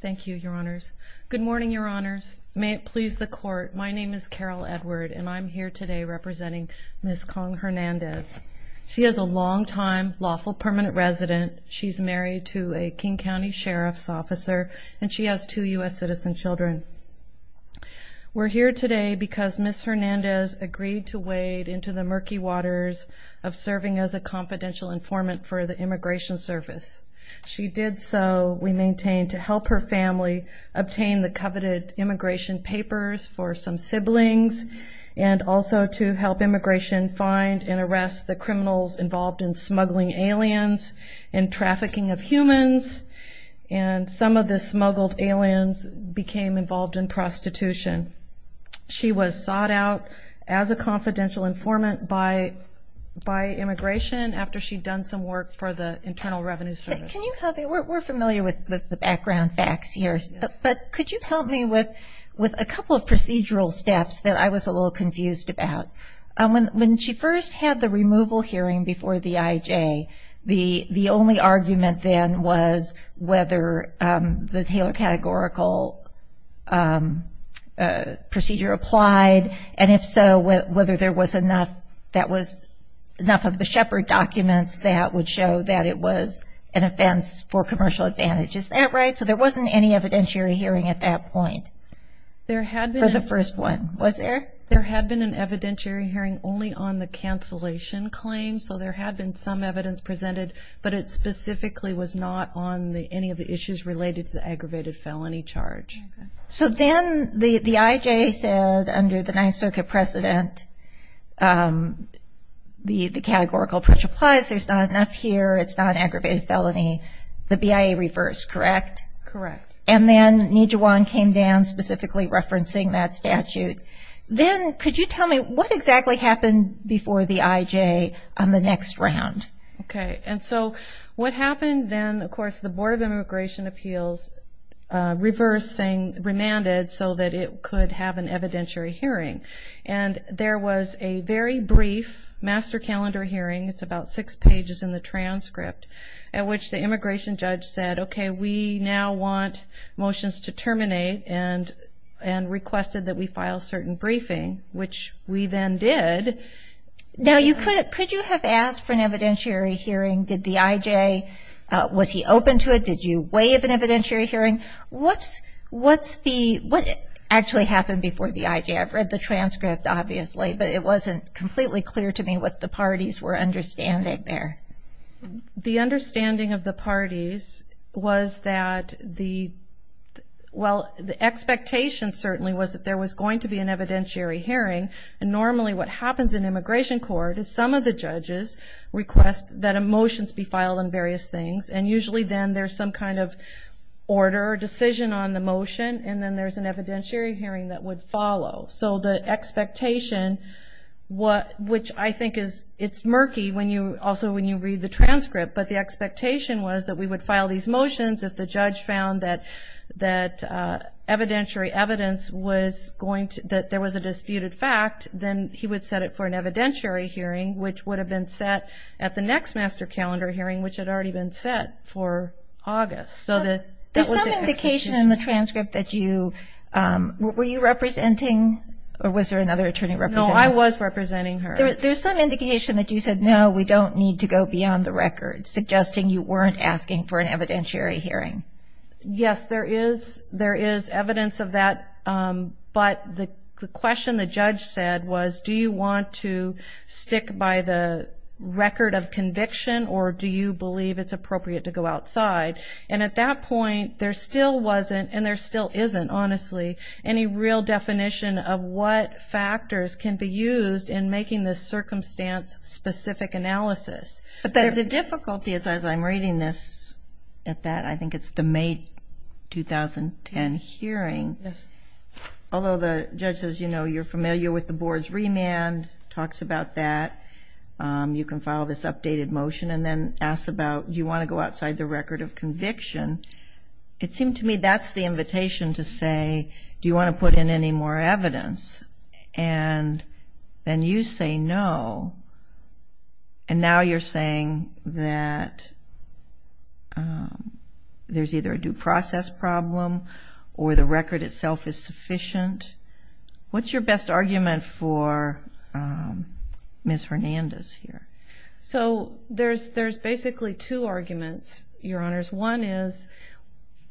Thank you, Your Honors. Good morning, Your Honors. May it please the Court, my name is Carol Edward and I'm here today representing Ms. Kong Hernandez. She is a longtime lawful permanent resident. She's married to a King County Sheriff's officer and she has two U.S. citizen children. We're here today because Ms. Hernandez agreed to wade into the murky waters of serving as a confidential informant for the Immigration Service. She did so, we maintain, to help her family obtain the coveted immigration papers for some siblings and also to help immigration find and arrest the criminals involved in smuggling aliens and trafficking of humans and some of the smuggled aliens became involved in prostitution. She was sought out as a confidential informant by immigration after she'd done some work for the Internal Revenue Service. We're familiar with the background facts here, but could you help me with a couple of procedural steps that I was a little confused about. When she first had the removal hearing before the IJ, the only argument then was whether the Taylor categorical procedure applied and if so whether there was enough of the Shepard documents that would show that it was an offense for commercial advantage. Is that right? So there wasn't any evidentiary hearing at that point for the first one, was there? There had been an evidentiary hearing only on the cancellation claim, so there had been some evidence presented, but it specifically was not on any of the issues related to the aggravated felony charge. So then the IJ said under the categorical approach applies, there's not enough here, it's not an aggravated felony, the BIA reversed, correct? Correct. And then Nijuwan came down specifically referencing that statute. Then could you tell me what exactly happened before the IJ on the next round? Okay, and so what happened then, of course, the Board of Immigration Appeals reversing, remanded so that it could have an evidentiary hearing. And there was a very brief master calendar hearing, it's about six pages in the transcript, at which the immigration judge said, okay, we now want motions to terminate and requested that we file certain briefing, which we then did. Now, could you have asked for an evidentiary hearing? Did the IJ, was he open to it? Did you weigh of an evidentiary hearing? What's the, what actually happened before the IJ? I've read the transcript, obviously, but it wasn't completely clear to me what the parties were understanding there. The understanding of the parties was that the, well, the expectation certainly was that there was going to be an evidentiary hearing, and normally what happens in immigration court is some of the judges request that a motion be filed on various things, and usually then there's some kind of order or decision on the motion, and then there's an evidentiary hearing that would follow. So the expectation, which I think is, it's murky when you, also when you read the transcript, but the expectation was that we would file these motions if the judge found that evidentiary evidence was going to, that there was a disputed fact, then he would set it for an evidentiary hearing, which would have been set at the next master calendar hearing, which had already been set for August, so that... There's some indication in the transcript that you, were you representing, or was there another attorney representing? No, I was representing her. There's some indication that you said, no, we don't need to go beyond the record, suggesting you weren't asking for an evidentiary hearing. Yes, there is, there is evidence of that, but the question the judge said was, do you want to stick by the record of conviction, or do you believe it's appropriate to go outside? And at that point, there still wasn't, and there still isn't, honestly, any real definition of what factors can be used in making this circumstance-specific analysis. But the difficulty is, as I'm reading this, at that, I think it's the May 2010 hearing, although the judge says, you know, you're familiar with the board's remand, talks about that, you can file this updated motion, and then asks about, do you want to go outside the record of conviction? It seemed to me that's the invitation to say, do you want to put in any more evidence? And then you say no, and now you're saying that there's either a due process problem, or the record itself is Ms. Hernandez here. So there's basically two arguments, Your Honors. One is,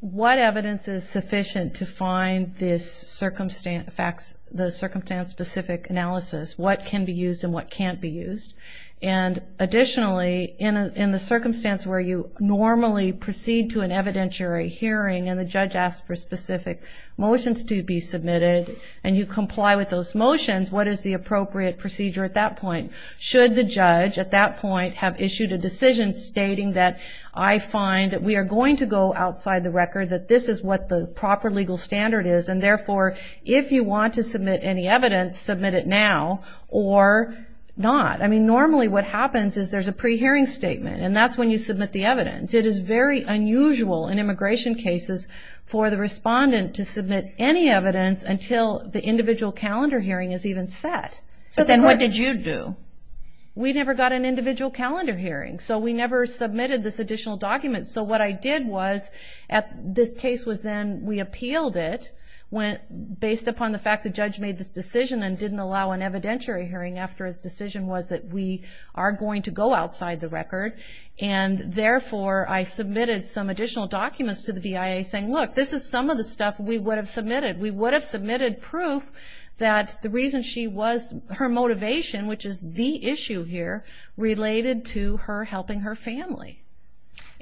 what evidence is sufficient to find this circumstance-specific analysis? What can be used, and what can't be used? And additionally, in the circumstance where you normally proceed to an evidentiary hearing, and the judge asks for specific motions to be submitted, and you comply with those at that point, should the judge at that point have issued a decision stating that, I find that we are going to go outside the record, that this is what the proper legal standard is, and therefore, if you want to submit any evidence, submit it now, or not. I mean, normally what happens is there's a pre-hearing statement, and that's when you submit the evidence. It is very unusual in immigration cases for the respondent to submit any evidence until the individual hearing. So what did you do? We never got an individual calendar hearing, so we never submitted this additional document. So what I did was, this case was then, we appealed it, based upon the fact the judge made this decision and didn't allow an evidentiary hearing after his decision was that we are going to go outside the record, and therefore, I submitted some additional documents to the BIA saying, look, this is some of the stuff we would have submitted. We would have submitted proof that the reason she was, her motivation, which is the issue here, related to her helping her family.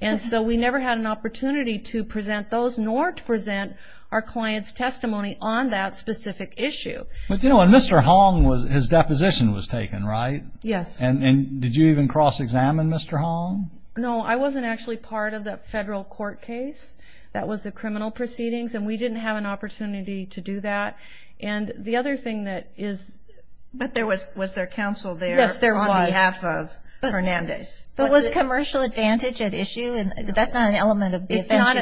And so we never had an opportunity to present those, nor to present our client's testimony on that specific issue. But you know, and Mr. Hong, his deposition was taken, right? Yes. And did you even cross-examine Mr. Hong? No, I wasn't actually part of the federal court case that was the criminal proceedings, and we didn't have an opportunity to do that. And the other thing that is... But there was, was there counsel there? Yes, there was. On behalf of Fernandez. But was commercial advantage at issue? And that's not an element of the... It's not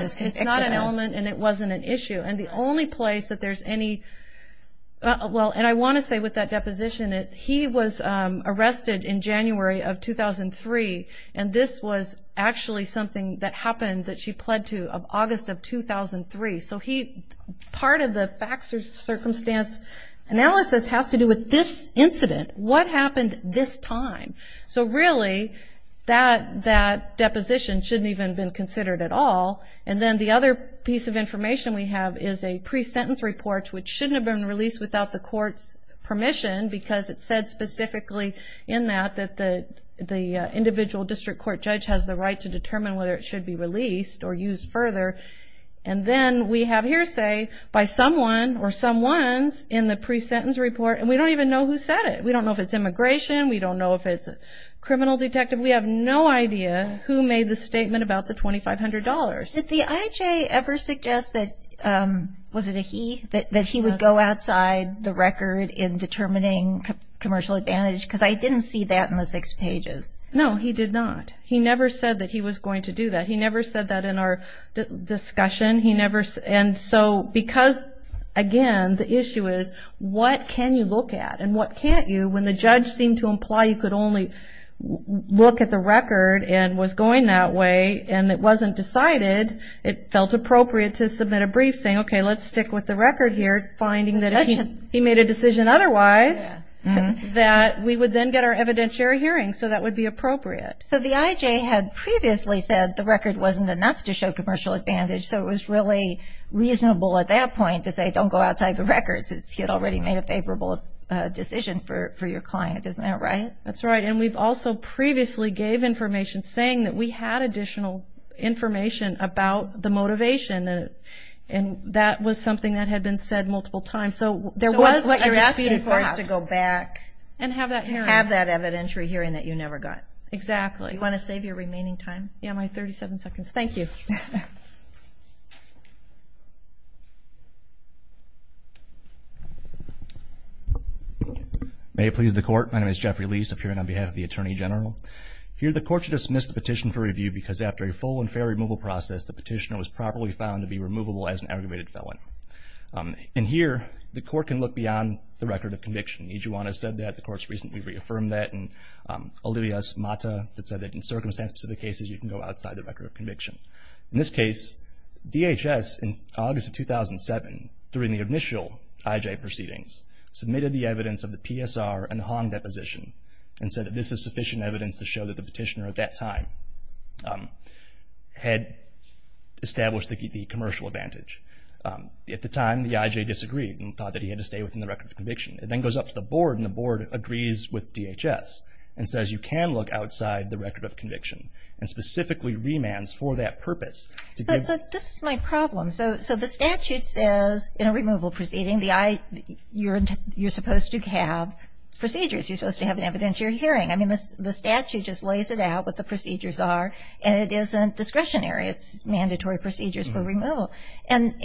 an element, and it wasn't an issue. And the only place that there's any, well, and I want to say with that deposition, he was arrested in January of 2003, and this was actually something that happened, that she pled to, of August of 2003. So he, part of the facts or circumstance analysis has to do with this incident. What happened this time? So really, that, that deposition shouldn't even been considered at all. And then the other piece of information we have is a pre-sentence report, which shouldn't have been released without the court's permission, because it said specifically in that, that the, the individual district court judge has the right to determine whether it should be released or used further. And then we have hearsay by someone or someones in the pre-sentence report, and we don't even know who said it. We don't know if it's immigration. We don't know if it's a criminal detective. We have no idea who made the statement about the $2,500. Did the IHA ever suggest that, was it a he, that he would go outside the record in determining commercial advantage? Because I didn't see that in the six pages. No, he did not. He never said that he was going to do that. He never, and so because, again, the issue is what can you look at and what can't you, when the judge seemed to imply you could only look at the record and was going that way, and it wasn't decided, it felt appropriate to submit a brief saying, okay, let's stick with the record here, finding that he made a decision otherwise, that we would then get our evidentiary hearing. So that would be appropriate. So the IHA had previously said the record wasn't enough to show commercial advantage, so it was really reasonable at that point to say, don't go outside the records. He had already made a favorable decision for your client. Isn't that right? That's right, and we've also previously gave information saying that we had additional information about the motivation, and that was something that had been said multiple times. So there was a dispute for us to go back and have that evidentiary hearing that you never got. Exactly. You want to save your remaining time? Yeah, my 37 seconds. Thank you. May it please the court, my name is Jeffrey Leis, appearing on behalf of the Attorney General. Here the court should dismiss the petition for review because after a full and fair removal process, the petitioner was properly found to be removable as an aggravated felon. And here, the court can look beyond the record of conviction. Ijuana said that, the court's recently reaffirmed that, and Olivia Smata said that in circumstance-specific cases, you can go outside the record of conviction. In this case, DHS in August of 2007, during the initial IJ proceedings, submitted the evidence of the PSR and the Hong deposition, and said that this is sufficient evidence to show that the petitioner at that time had established the commercial advantage. At the time, the IJ disagreed and thought that he had to stay within the record of conviction. It then goes up to the board, and the board agrees with DHS, and says you can look outside the record of conviction, and specifically remands for that purpose. But this is my problem. So the statute says, in a removal proceeding, you're supposed to have procedures. You're supposed to have an evidentiary hearing. I mean, the statute just lays it out what the procedures are, and it isn't discretionary. It's mandatory procedures for removal. And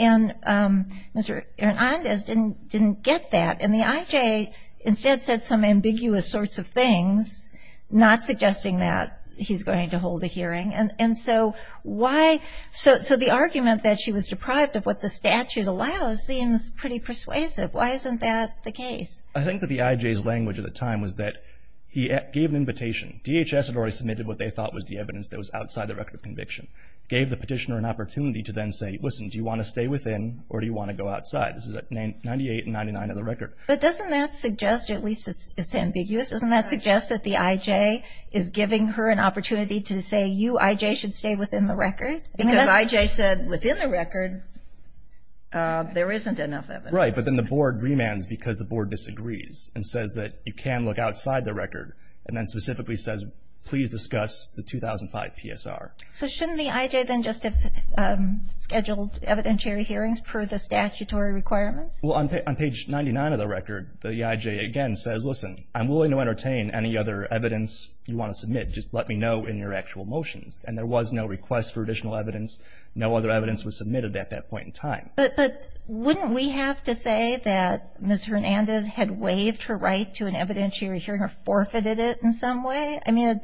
Mr. Hernandez didn't get that, and the IJ instead said some ambiguous sorts of things, not suggesting that he's going to hold a hearing. And so the argument that she was deprived of what the statute allows seems pretty persuasive. Why isn't that the case? I think that the IJ's language at the time was that he gave an invitation. DHS had already submitted what they thought was the evidence that was outside the record of conviction. Gave the petitioner an opportunity to then say, listen, do you want to stay within, or do you want to go outside? This is at 98 and 99 of the record. But doesn't that suggest, at least it's ambiguous, doesn't that suggest that the IJ is giving her an opportunity to say, you IJ should stay within the record? Because IJ said, within the record, there isn't enough evidence. Right, but then the board remands because the board disagrees, and says that you can look outside the record, and then specifically says, please discuss the 2005 PSR. So shouldn't the IJ then just have scheduled evidentiary hearings per the statutory requirements? Well, on page 99 of the record, the IJ again says, listen, I'm willing to entertain any other evidence you want to submit. Just let me know in your actual motions. And there was no request for additional evidence. No other evidence was submitted at that point in time. But wouldn't we have to say that Ms. Hernandez had waived her right to an evidentiary hearing or forfeited it in some way? I mean,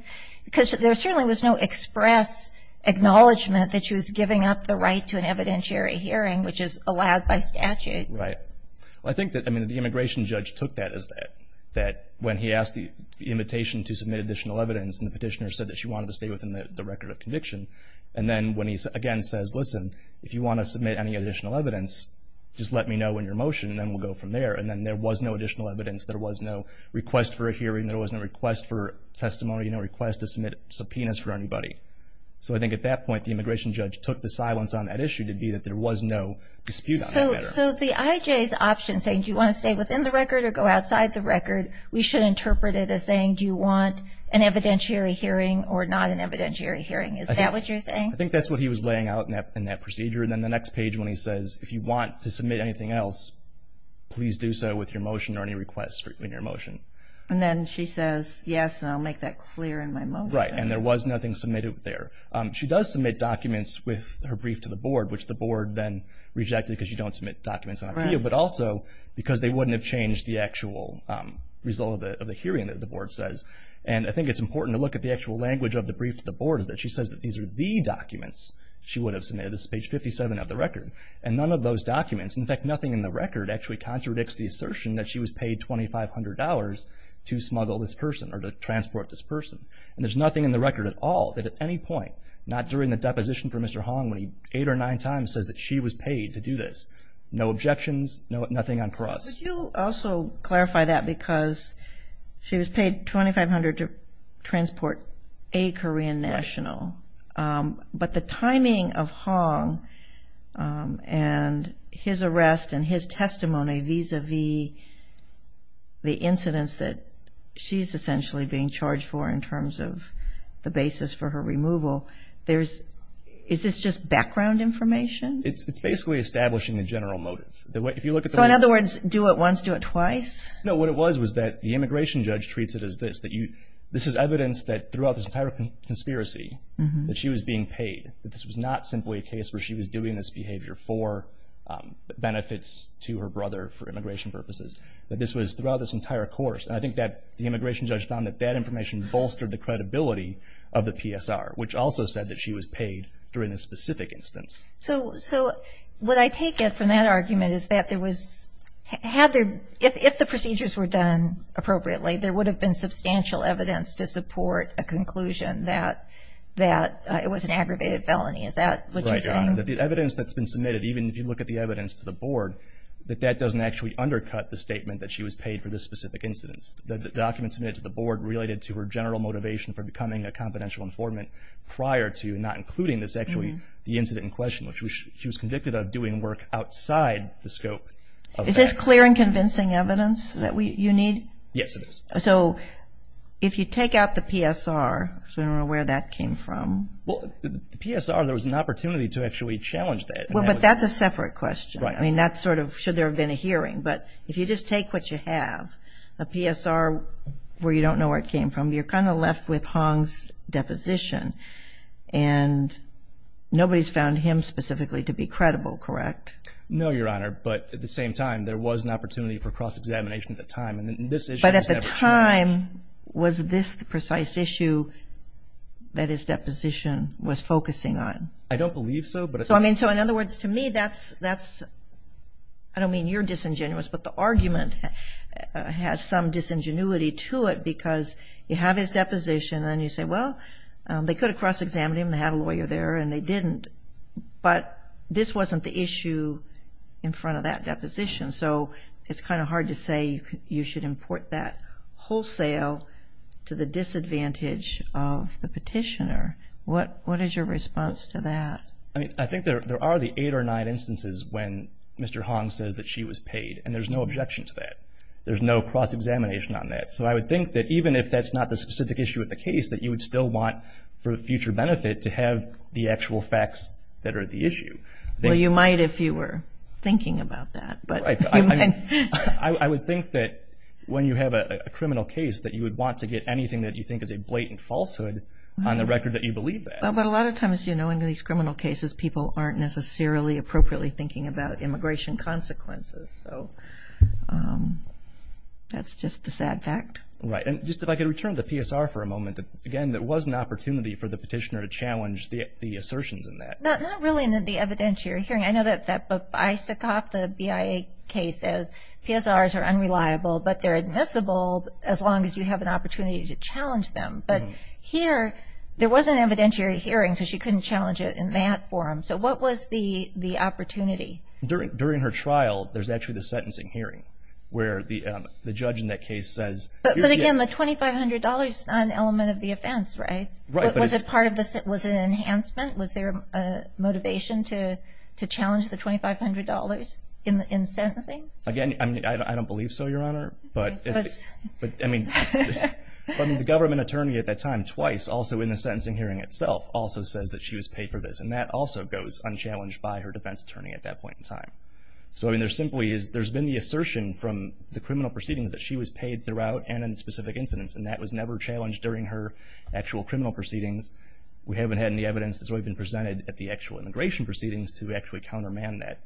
because there certainly was no express acknowledgement that she was giving up the right to an evidentiary hearing, which is allowed by statute. Right. Well, I think that, I mean, the immigration judge took that as that, that when he asked the invitation to submit additional evidence, and the petitioner said that she wanted to stay within the record of conviction. And then when he, again, says, listen, if you want to submit any additional evidence, just let me know in your motion, and then we'll go from there. And then there was no additional evidence. There was no request for a hearing. There was no request for testimony, no request to submit subpoenas for anybody. So I think at that point, the immigration judge took the silence on that issue to be that there was no dispute on that matter. So the IJ's option, saying, do you want to stay within the record or go outside the record, we should interpret it as saying, do you want an evidentiary hearing or not an evidentiary hearing? Is that what you're saying? I think that's what he was laying out in that procedure. And then the next page, when he says, if you want to submit anything else, please do so with your motion or any request in your motion. And then she says, yes, and I'll make that clear in my motion. Right. And there was nothing submitted there. She does submit documents with her brief to the board, which the board then rejected because you don't submit documents on IPO, but also because they wouldn't have changed the actual result of the hearing that the board says. And I think it's important to look at the actual language of the brief to the board is that she says that these are the documents she would have submitted. This is page 57 of the record. And none of those documents, in fact nothing in the record, actually contradicts the assertion that she was paid $2,500 to smuggle this person or to transport this person. And there's nothing in the record at all that at any point, not during the deposition for Mr. Hong when he eight or nine times says that she was paid to do this. No objections, nothing on cross. Would you also clarify that because she was paid $2,500 to transport a Korean national. But the timing of Hong and his arrest and his testimony vis a vis the incidents that she's essentially being charged for in terms of the basis for her removal. Is this just background information? It's basically establishing the general motive. If you look at the... So in other words, do it once, do it twice? No, what it was was that the immigration judge treats it as this, that you... This is evidence that throughout this entire conspiracy that she was being paid. That this was not simply a case where she was doing this behavior for benefits to her brother for immigration purposes. That this was throughout this entire course. And I think that the immigration judge found that that was the credibility of the PSR, which also said that she was paid during this specific instance. So what I take it from that argument is that there was... If the procedures were done appropriately, there would have been substantial evidence to support a conclusion that it was an aggravated felony. Is that what you're saying? Right, Your Honor. That the evidence that's been submitted, even if you look at the evidence to the board, that that doesn't actually undercut the statement that she was paid for this specific incident. The documents submitted to the board related to her general motivation for becoming a confidential informant prior to not including this, actually, the incident in question, which she was convicted of doing work outside the scope of that. Is this clear and convincing evidence that you need? Yes, it is. So if you take out the PSR, I don't know where that came from. Well, the PSR, there was an opportunity to actually challenge that. Well, but that's a separate question. Right. I mean, that's sort of, should there have been a hearing. But if you just take what you have, a PSR where you don't know where it came from, you're kind of left with Hong's deposition. And nobody's found him specifically to be credible, correct? No, Your Honor. But at the same time, there was an opportunity for cross-examination at the time. And this issue was never true. But at the time, was this the precise issue that his deposition was focusing on? I don't believe so. So, I mean, in other words, to me, that's, I don't mean you're disingenuous, but the argument has some disingenuity to it because you have his deposition and you say, well, they could have cross-examined him. They had a lawyer there and they didn't. But this wasn't the issue in front of that deposition. So it's kind of hard to say you should import that wholesale to the disadvantage of the petitioner. What is your response to that? I mean, I think there are the eight or nine instances when Mr. Hong says that she was paid and there's no objection to that. There's no cross examination on that. So I would think that even if that's not the specific issue of the case, that you would still want for future benefit to have the actual facts that are the issue. Well, you might if you were thinking about that. Right. I would think that when you have a criminal case that you would want to get anything that you think is a blatant falsehood on the record that you believe that. But a lot of times, you know, in these criminal cases, people aren't necessarily appropriately thinking about immigration consequences. So that's just the sad fact. Right. And just if I could return to PSR for a moment. Again, there was an opportunity for the petitioner to challenge the assertions in that. Not really in the evidentiary hearing. I know that that Babaysikov, the BIA case, says PSRs are unreliable, but they're admissible as long as you have an opportunity to challenge them. But here, there was an evidentiary hearing, so she couldn't challenge it in that forum. So what was the opportunity? During her trial, there's actually the sentencing hearing, where the judge in that case says... But again, the $2,500 is not an element of the offense, right? Right. But was it part of the... Was it an enhancement? Was there a motivation to challenge the $2,500 in sentencing? Again, I don't believe so, Your Honor, but it's... But I mean, the government attorney at that time, twice, also in the sentencing hearing itself, also says that she was paid for this, and that also goes unchallenged by her defense attorney at that point in time. So I mean, there simply is... There's been the assertion from the criminal proceedings that she was paid throughout and in specific incidents, and that was never challenged during her actual criminal proceedings. We haven't had any evidence that's really been presented at the actual immigration proceedings to actually counterman that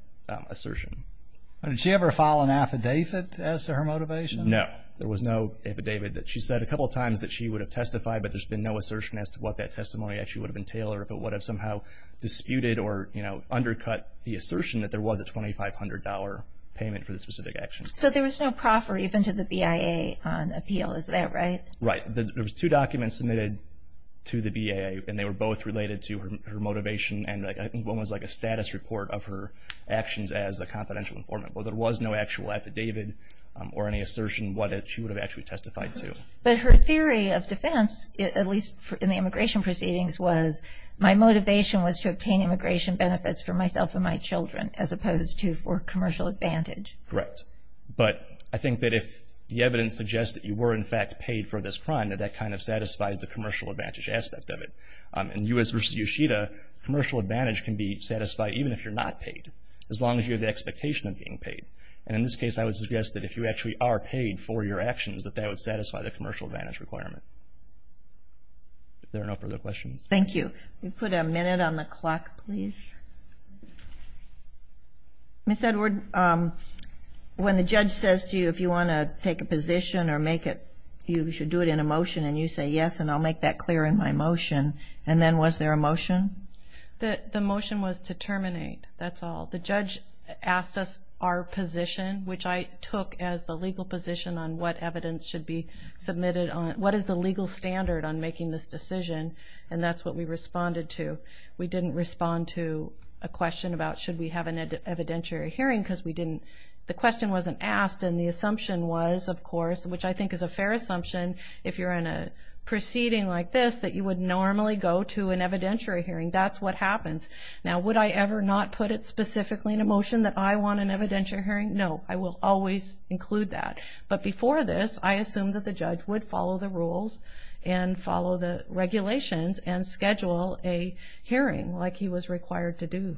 assertion. Did she ever file an affidavit as to her motivation? No. There was no affidavit that... She said a couple of times that she would have testified, but there's been no assertion as to what that testimony actually would have entailed or if it would have somehow disputed or undercut the assertion that there was a $2,500 payment for this specific action. So there was no proffer even to the BIA on appeal, is that right? Right. There was two documents submitted to the BIA, and they were both related to her motivation, and one was like a status report of her actions as a confidential informant. Well, there was no actual affidavit or any assertion what she would have actually testified to. But her theory of defense, at least in the immigration proceedings, was my motivation was to obtain immigration benefits for myself and my children as opposed to for commercial advantage. Correct. But I think that if the evidence suggests that you were in fact paid for this crime, that that kind of satisfies the commercial advantage aspect of it. In U.S. v. Yoshida, commercial advantage can be satisfied even if you're not paid, as long as you have the expectation of being paid. And in this case, I would suggest that if you There are no further questions. Thank you. We'll put a minute on the clock, please. Ms. Edward, when the judge says to you if you want to take a position or make it, you should do it in a motion, and you say yes, and I'll make that clear in my motion, and then was there a motion? The motion was to terminate, that's all. The judge asked us our position, which I took as the legal position on what evidence should be submitted on, what is the legal standard on making this decision, and that's what we responded to. We didn't respond to a question about should we have an evidentiary hearing, because we didn't, the question wasn't asked, and the assumption was, of course, which I think is a fair assumption, if you're in a proceeding like this, that you would normally go to an evidentiary hearing. That's what happens. Now, would I ever not put it specifically in a motion that I want an evidentiary hearing? No, I will always include that, but before this, I assumed that the judge would follow the rules and follow the regulations and schedule a hearing like he was required to do.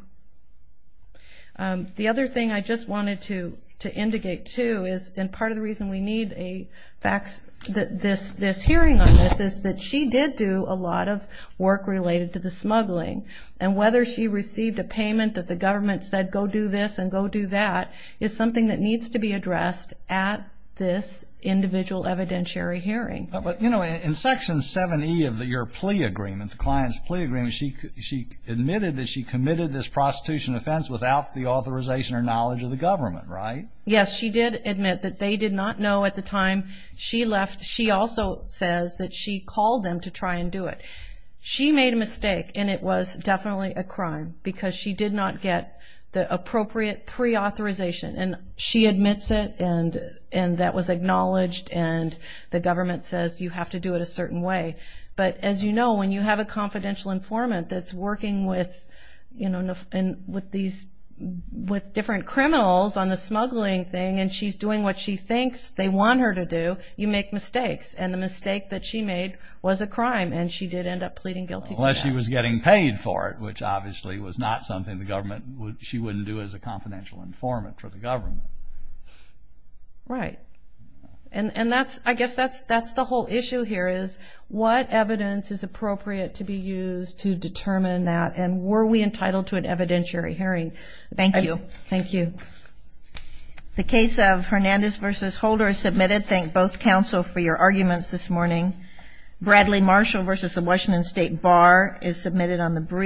The other thing I just wanted to indicate, too, is, and part of the reason we need a hearing on this is that she did do a lot of work related to the smuggling, and whether she received a payment that the government said go do this and go do that is something that needs to be addressed at this individual evidentiary hearing. But, you know, in Section 7E of your plea agreement, the client's plea agreement, she admitted that she committed this prostitution offense without the authorization or knowledge of the government, right? Yes, she did admit that they did not know at the time she left. She also says that she called them to try and do it. She made a mistake, and it was definitely a crime, because she did not get the appropriate pre-authorization. And she admits it, and that was acknowledged, and the government says you have to do it a certain way. But, as you know, when you have a confidential informant that's working with, you know, with different criminals on the smuggling thing, and she's doing what she thinks they want her to do, you make mistakes. And the mistake that she made was a crime, and she did end up pleading guilty to that. Unless she was getting paid for it, which obviously was not something the government would, she wouldn't do as a confidential informant for the government. Right. And that's, I guess that's the whole issue here, is what evidence is appropriate to be used to determine that, and were we entitled to an evidentiary hearing? Thank you. Thank you. The case of Hernandez v. Holder is submitted. Thank both counsel for your arguments this morning. Bradley Marshall v. the Washington State Bar is submitted on the